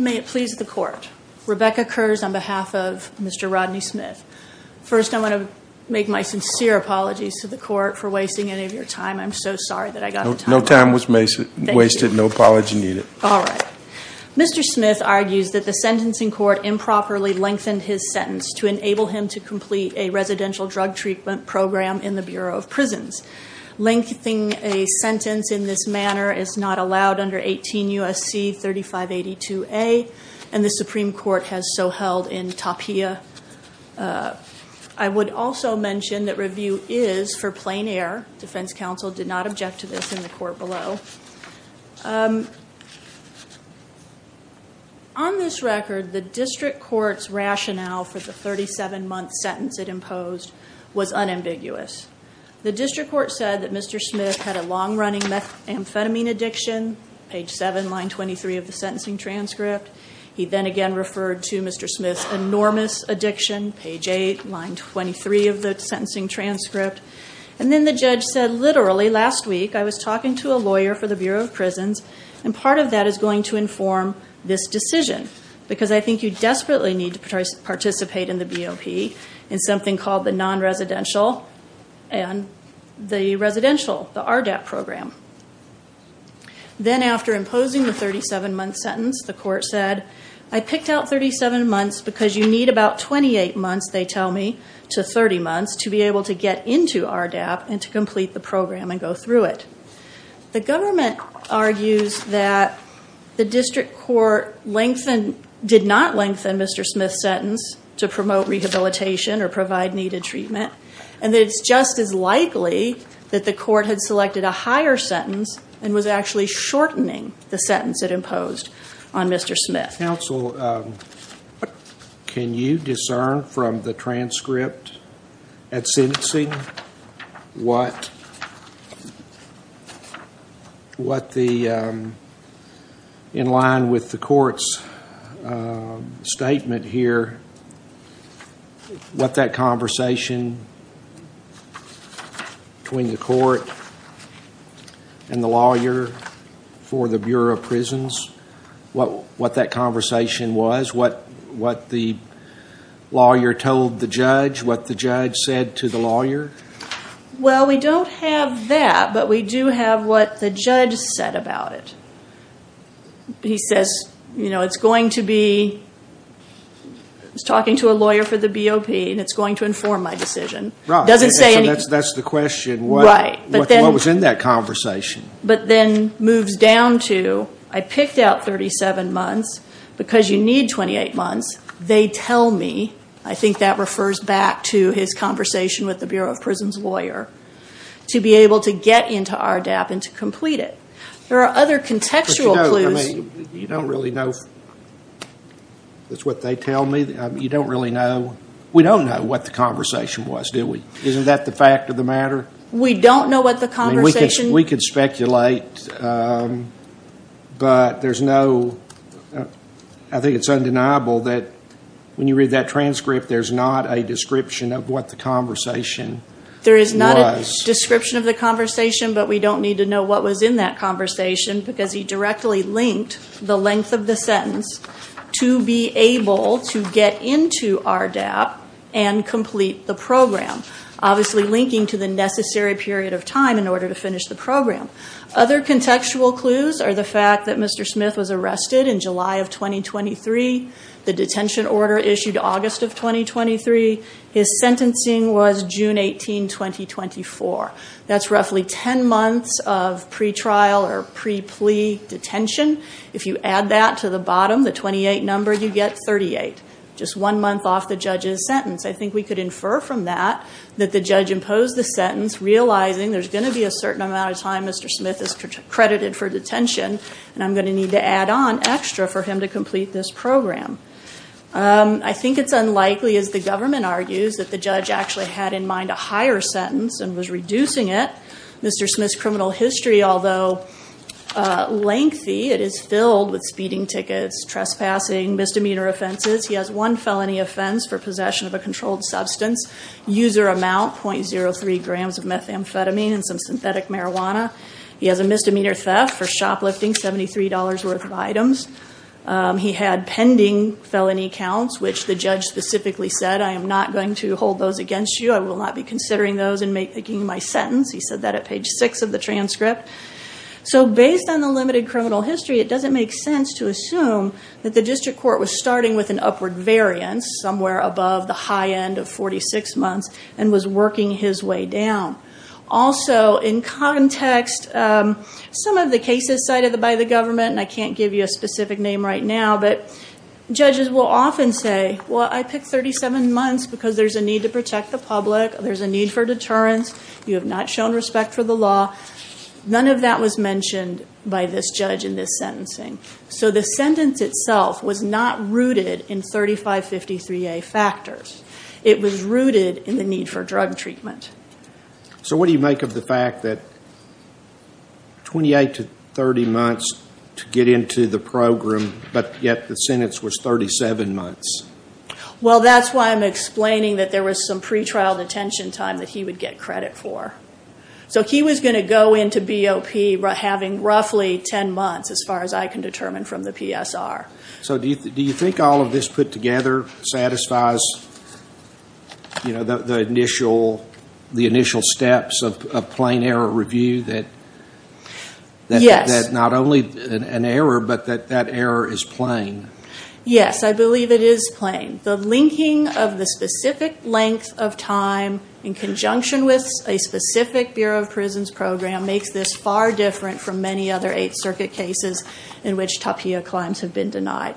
May it please the court. Rebecca Kurz on behalf of Mr. Rodney Smith. First I want to make my sincere apologies to the court for wasting any of your time. I'm so sorry that I got no time was wasted, no apology needed. All right. Mr. Smith argues that the sentencing court improperly lengthened his sentence to enable him to complete a residential drug treatment program in the Bureau of Prisons. Lengthening a sentence in this manner is not allowed under 18 U.S.C. 3582a and the Supreme Court has so held in Tapia. I would also mention that review is for plain air. Defense counsel did not object to this in the court below. On this record the district courts rationale for the 37 month sentence it imposed was unambiguous. The district court said that Mr. Smith had a long-running methamphetamine addiction. Page 7, line 23 of the sentencing transcript. He then again referred to Mr. Smith's enormous addiction. Page 8, line 23 of the sentencing transcript. And then the judge said literally last week I was talking to a lawyer for the Bureau of Prisons and part of that is going to inform this decision because I think you desperately need to participate in the BOP in something called the non-residential and the residential, the RDAP program. Then after imposing the 37 month sentence the court said I picked out 37 months because you need about 28 months they tell me to 30 months to be able to get into RDAP and to complete the program and go through it. The government argues that the district court lengthen did not lengthen Mr. Smith's sentence to promote rehabilitation or provide needed treatment and it's just as likely that the court had selected a higher sentence and was actually shortening the sentence it imposed on Mr. Smith. Counsel, can you discern from the transcript at sentencing what the in line with the court's statement here what that conversation between the court and the lawyer for the Bureau of Prisons what what that conversation was what what the lawyer told the judge what the judge said to the lawyer? Well we don't have that but we do have what the judge said about it. He says you know it's going to be talking to a lawyer for the BOP and it's going to inform my decision. That's the question, what was in that conversation? But then moves down to I picked out 37 months because you need 28 months they tell me I think that refers back to his conversation with the Bureau of Prisons lawyer to be able to get into RDAP and to complete it. There are other contextual clues. You don't really know that's what they tell me you don't really know we don't know what the conversation was do we isn't that the fact of the matter? We don't know what the conversation is. We could speculate but there's no I think it's undeniable that when you read that transcript there's not a description of what the conversation was. There is not a description of the conversation but we don't need to know what was in that conversation because he directly linked the length of the sentence to be able to get into RDAP and complete the program. Obviously linking to the necessary period of time in order to finish the program. Other contextual clues are the fact that Mr. The detention order issued August of 2023. His sentencing was June 18, 2024. That's roughly 10 months of pre-trial or pre-plea detention. If you add that to the bottom the 28 number you get 38. Just one month off the judge's sentence. I think we could infer from that that the judge imposed the sentence realizing there's going to be a certain amount of time Mr. Smith is credited for detention and I'm going to need to add on extra for him to complete this program. I think it's unlikely as the government argues that the judge actually had in mind a higher sentence and was reducing it. Mr. Smith's criminal history although lengthy it is filled with speeding tickets, trespassing, misdemeanor offenses. He has one felony offense for possession of a controlled substance. User amount .03 grams of methamphetamine and some synthetic marijuana. He has a misdemeanor theft for shoplifting $73 worth of items. He had pending felony counts which the judge specifically said I am NOT going to hold those against you. I will not be considering those in making my sentence. He said that at page 6 of the transcript. So based on the limited criminal history it doesn't make sense to assume that the district court was starting with an upward variance somewhere above the high end of 46 months and was working his way down. Also in context some of the cases cited by the government and I can't give you a specific name right now but judges will often say well I picked 37 months because there's a need to protect the public. There's a need for deterrence. You have not shown respect for the law. None of that was mentioned by this judge in this sentencing. So the sentence itself was not rooted in 3553A factors. It was rooted in the need for drug treatment. So what do you make of the fact that 28 to 30 months to get into the program but yet the sentence was 37 months? Well that's why I'm explaining that there was some pretrial detention time that he would get credit for. So he was going to go into BOP having roughly 10 months as far as I can determine from the PSR. So do you think all of this put together satisfies you know the initial steps of a plain error review that not only an error but that that error is plain? Yes I believe it is plain. The linking of the specific length of time in conjunction with a specific Bureau of Prisons program makes this far different from many other Eighth Circuit cases in which TAPIA claims have been denied.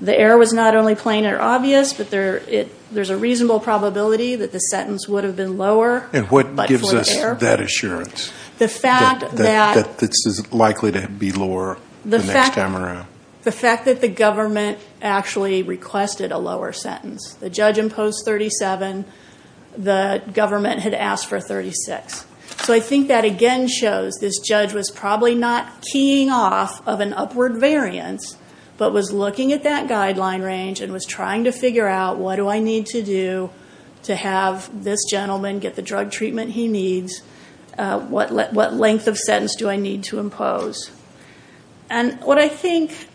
The error was not only plain or obvious but there's a reasonable probability that the sentence would have been lower. And what gives us that assurance? The fact that this is likely to be lower the next time around. The fact that the government actually requested a lower sentence. The judge imposed 37. The government had asked for 36. So I think that again shows this judge was probably not keying off of an upward variance but was looking at that guideline range and was trying to figure out what do I need to do to have this gentleman get the drug treatment he needs? What length of sentence do I need to impose? And what I think,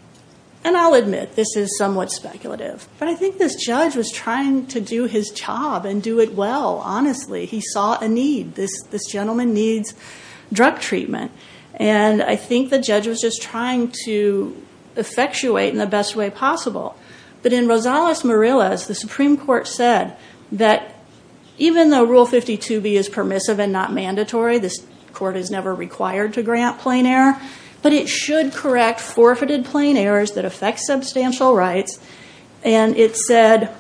and I'll admit this is somewhat speculative, but I think this judge was trying to do his job and do it well honestly. He saw a gentleman needs drug treatment and I think the judge was just trying to effectuate in the best way possible. But in Rosales-Morilas, the Supreme Court said that even though Rule 52b is permissive and not mandatory, this court is never required to grant plain error, but it should correct forfeited plain errors that affect substantial rights. And it said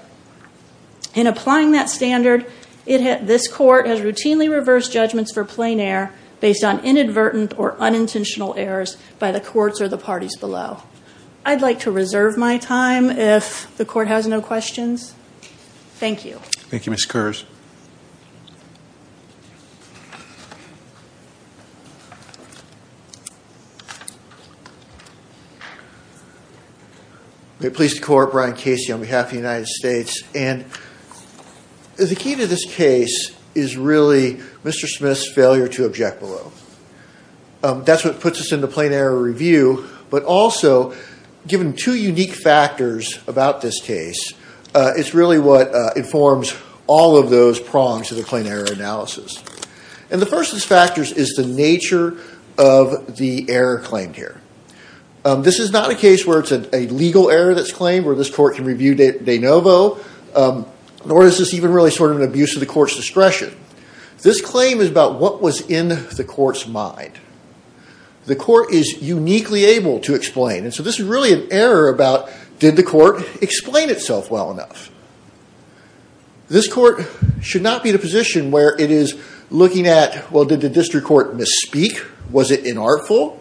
in applying that standard it this court has routinely reversed judgments for plain error based on inadvertent or unintentional errors by the courts or the parties below. I'd like to reserve my time if the court has no questions. Thank you. Thank you, Ms. Kersh. May it please the Court, Brian Casey on behalf of the United States. And the key to this case is really Mr. Smith's failure to object below. That's what puts us in the plain error review, but also given two unique factors about this case, it's really what informs all of those prongs to the plain error analysis. And the first of these factors is the nature of the error claimed here. This is not a case where it's a legal error that's claimed, where this court can review de novo, nor is this even really sort of an abuse of the court's discretion. This claim is about what was in the court's mind. The court is uniquely able to explain, and so this is really an error about did the court explain itself well enough. This court should not be in a position where it is looking at, well did the district court misspeak? Was it inartful?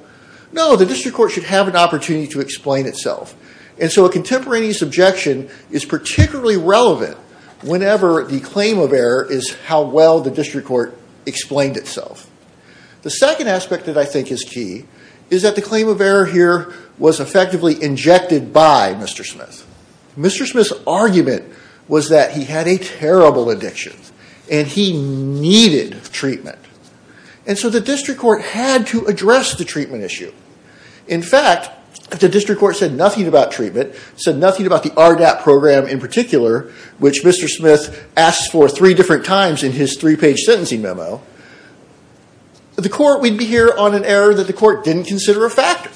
No, the district court should have an opportunity to explain itself. And so a contemporaneous objection is particularly relevant whenever the claim of error is how well the district court explained itself. The second aspect that I think is key is that the claim of error here was effectively injected by Mr. Smith. Mr. Smith's argument was that he had a terrible addiction, and he needed treatment. And so the district court had to address the treatment issue. In fact, if the district court said nothing about treatment, said nothing about the RDAP program in particular, which Mr. Smith asked for three different times in his three-page sentencing memo, the court would be here on an error that the court didn't consider a factor.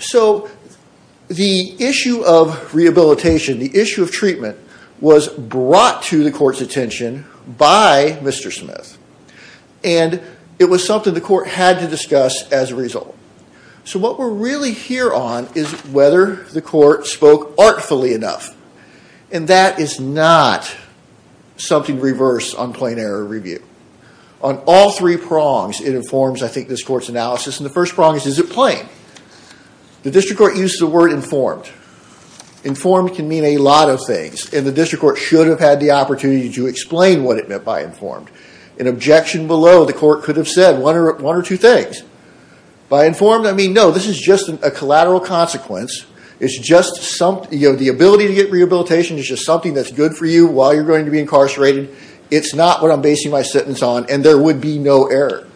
So the issue of rehabilitation, the issue of treatment, was brought to the court's attention by Mr. Smith. And it was something the court had to discuss as a result. So what we're really here on is whether the court spoke artfully enough. And that is not something reversed on plain error review. On all three prongs it informs, I think, this court's analysis. And the first prong is, is it plain? The district court uses the word informed. Informed can mean a lot of things, and the court should have had the opportunity to explain what it meant by informed. An objection below, the court could have said one or two things. By informed, I mean, no, this is just a collateral consequence. It's just some, you know, the ability to get rehabilitation is just something that's good for you while you're going to be incarcerated. It's not what I'm basing my sentence on, and there would be no error.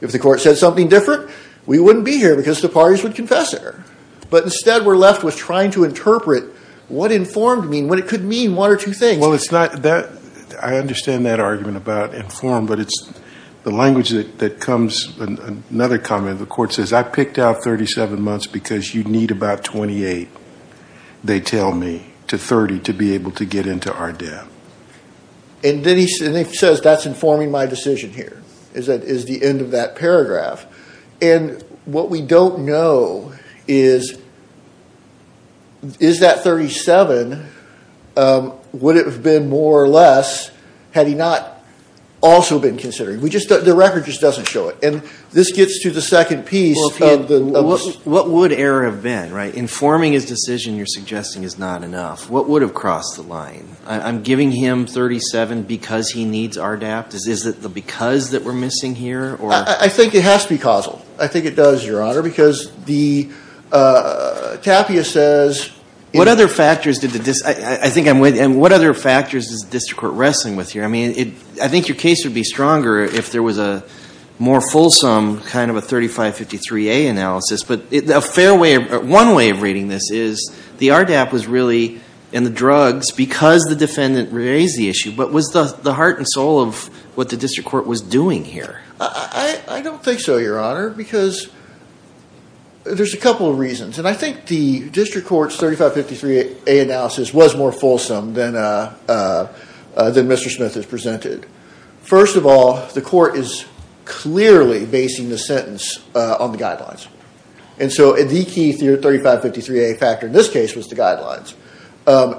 If the court said something different, we wouldn't be here because the parties would confess error. But instead we're left with trying to interpret what informed mean, what it could mean, one or two things. Well, it's not that, I understand that argument about informed, but it's the language that comes, another comment, the court says, I picked out 37 months because you need about 28, they tell me, to 30 to be able to get into RDAP. And then he says, that's informing my decision here, is the end of that paragraph. And what we don't know is, is that 37, would it have been more or less, had he not also been considered? We just, the record just doesn't show it. And this gets to the second piece. What would error have been, right? Informing his decision you're suggesting is not enough. What would have crossed the line? I'm giving him 37 because he needs RDAP? Is it the because that we're missing here? I think it has to be causal. I think it does, your honor, because the, Tapia says. What other factors did the, I think I'm with, and what other factors is the district court wrestling with here? I mean, I think your case would be stronger if there was a more fulsome kind of a 3553A analysis. But a fair way, one way of reading this is, the RDAP was really in the drugs because the defendant raised the issue. But was the heart and soul of what the district court was doing here? I don't think so, your honor, because there's a couple of reasons. And I think the district court's 3553A analysis was more fulsome than, than Mr. Smith has presented. First of all, the court is clearly basing the sentence on the guidelines. And so the key 3553A factor in this case was the guidelines.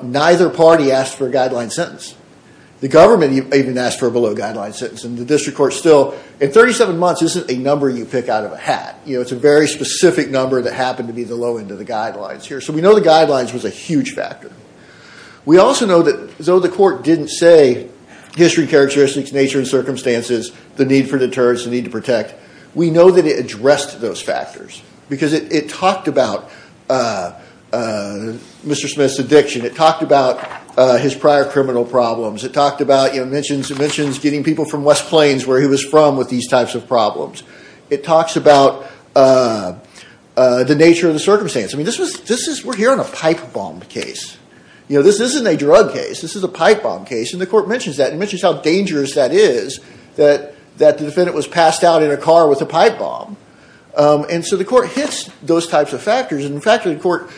Neither party asked for a guideline sentence. The government even asked for a guideline sentence. And 37 months isn't a number you pick out of a hat. You know, it's a very specific number that happened to be the low end of the guidelines here. So we know the guidelines was a huge factor. We also know that though the court didn't say history characteristics, nature and circumstances, the need for deterrence, the need to protect, we know that it addressed those factors. Because it, it talked about Mr. Smith's addiction. It talked about his prior criminal problems. It talked about, you know, mentions, it mentions getting people from the West Plains where he was from with these types of problems. It talks about the nature of the circumstance. I mean, this was, this is, we're here on a pipe bomb case. You know, this isn't a drug case. This is a pipe bomb case. And the court mentions that. It mentions how dangerous that is, that, that the defendant was passed out in a car with a pipe bomb. And so the court hits those types of factors. And in fact, the court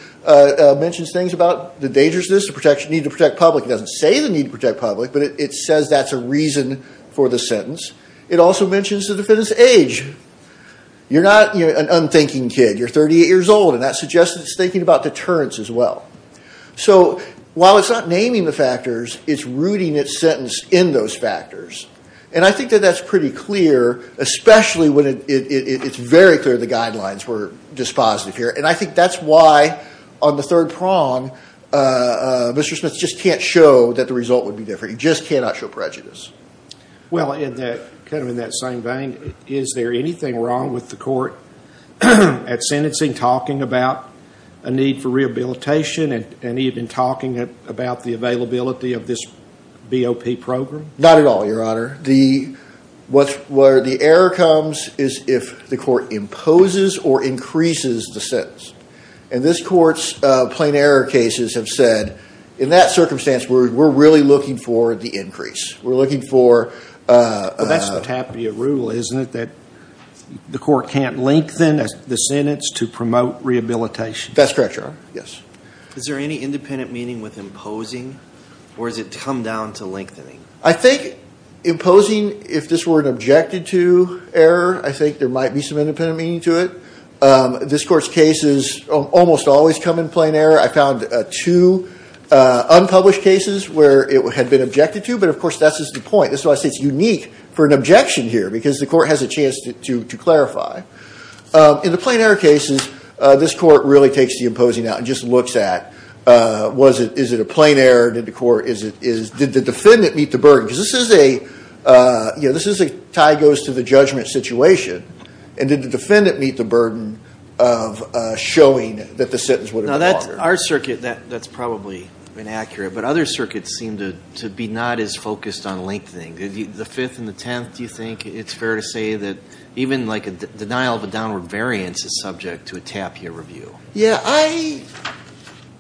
mentions things about the dangerousness, the protection, need to protect public. It doesn't say the need to protect public, but it says that's a reason for the sentence. It also mentions the defendant's age. You're not, you know, an unthinking kid. You're 38 years old, and that suggests it's thinking about deterrence as well. So while it's not naming the factors, it's rooting its sentence in those factors. And I think that that's pretty clear, especially when it's very clear the guidelines were dispositive here. And I think that's why on the third prong, Mr. Smith just can't show that the result would be different. He just cannot show prejudice. Well, in that, kind of in that same vein, is there anything wrong with the court at sentencing talking about a need for rehabilitation and even talking about the availability of this BOP program? Not at all, Your Honor. The, what's, where the error comes is if the court imposes or increases the sentence. And this court's plain error cases have said, in that circumstance, we're really looking for the increase. We're looking for... Well, that's the Tapia rule, isn't it? That the court can't lengthen the sentence to promote rehabilitation. That's correct, Your Honor. Yes. Is there any independent meaning with imposing? Or does it come down to lengthening? I think imposing, if this were an objected to error, I think there might be some independent meaning to it. This court's cases almost always come in plain error. I found two unpublished cases where it had been objected to, but of course, that's just the point. That's why I say it's unique for an objection here, because the court has a chance to clarify. In the plain error cases, this court really takes the imposing out and just looks at, was it, is it a plain error? Did the court, is it, is, did the defendant meet the burden? Because this is a, you know, this is a tie goes to the judgment situation. And did the defendant meet the burden of showing that the sentence would be longer? Now, that's, our circuit, that's probably inaccurate, but other circuits seem to be not as focused on lengthening. The Fifth and the Tenth, do you think it's fair to say that even like a denial of a downward variance is subject to a tapier review? Yeah, I,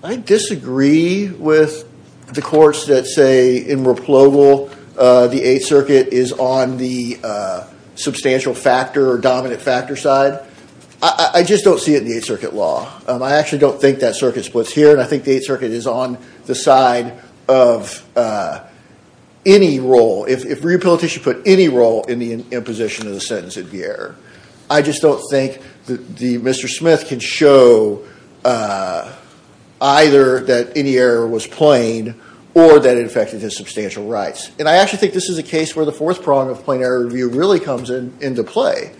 I disagree with the courts that say in Replogle the Eighth Circuit is on the substantial factor or dominant factor side. I just don't see it in the Eighth Circuit law. I actually don't think that circuit splits here, and I think the Eighth Circuit is on the side of any role. If, if reappellate should put any role in the imposition of the sentence it'd be error. I just don't think that the, Mr. Smith can show either that any error was plain or that it affected his substantial rights. And I actually think this is a case where the fourth prong of plain error review really comes in, into play.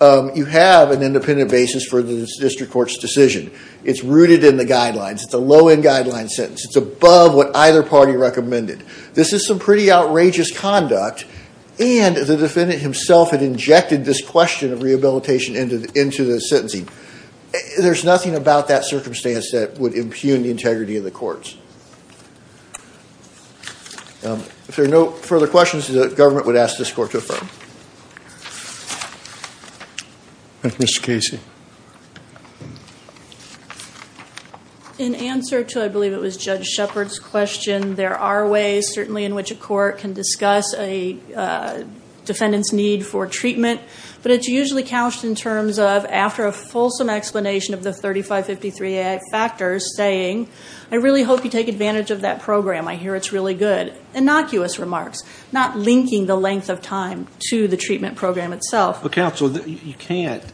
You have an independent basis for the district court's decision. It's rooted in the guidelines. It's a low end guideline sentence. It's above what either party recommended. This is some pretty outrageous conduct, and the defendant himself had injected this question of rehabilitation into, into the sentencing. There's nothing about that circumstance that would impugn the integrity of the courts. If there are no further questions, the government would ask this court to affirm. Mr. Casey. In answer to, I believe it was Judge Shepard's question, there are ways certainly in which a court can discuss a defendant's need for treatment, but it's usually couched in terms of after a fulsome explanation of the 3553 Act factors saying, I really hope you take advantage of that program. I hear it's really good. Innocuous remarks. Not linking the length of time to the treatment program itself. But counsel, you can't,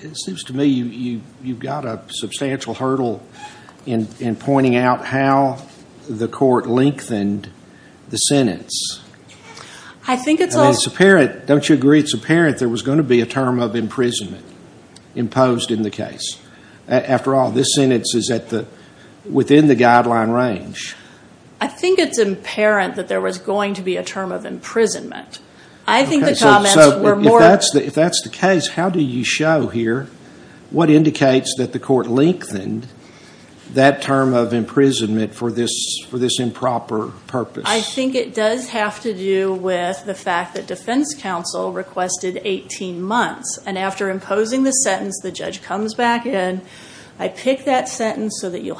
it seems to me you've got a substantial hurdle in pointing out how the court lengthened the sentence. I think it's all It's apparent, don't you agree it's apparent there was going to be a term of imprisonment imposed in the case. After all, this sentence is at the, within the guideline range. I think it's apparent that there was going to be a term of imprisonment. I think the comments were more If that's the case, how do you show here, what indicates that the court lengthened that term of imprisonment for this improper purpose? I think it does have to do with the fact that defense counsel requested 18 months. And after imposing the sentence, the judge comes back in. I pick that sentence so that you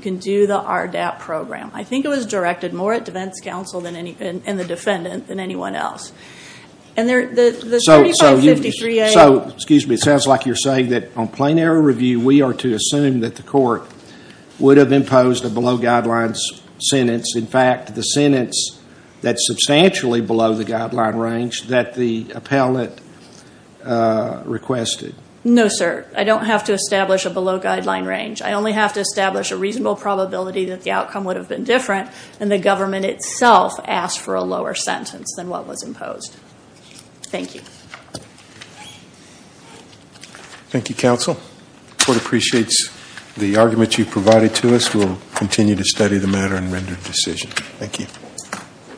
can do the RDAP program. I think it was directed more at defense counsel and the defendant than anyone else. So, excuse me, it sounds like you're saying that on plain error review, we are to assume that the court would have imposed a below guidelines sentence. In fact, the sentence that's substantially below the guideline range that the appellate requested. No, sir. I don't have to establish a below guideline range. I only have to establish a reasonable probability that the outcome would have been different and the government itself asked for a lower sentence than what was imposed. Thank you. Thank you, counsel. The court appreciates the argument you provided to us. We'll continue to study the matter and render a decision. Thank you.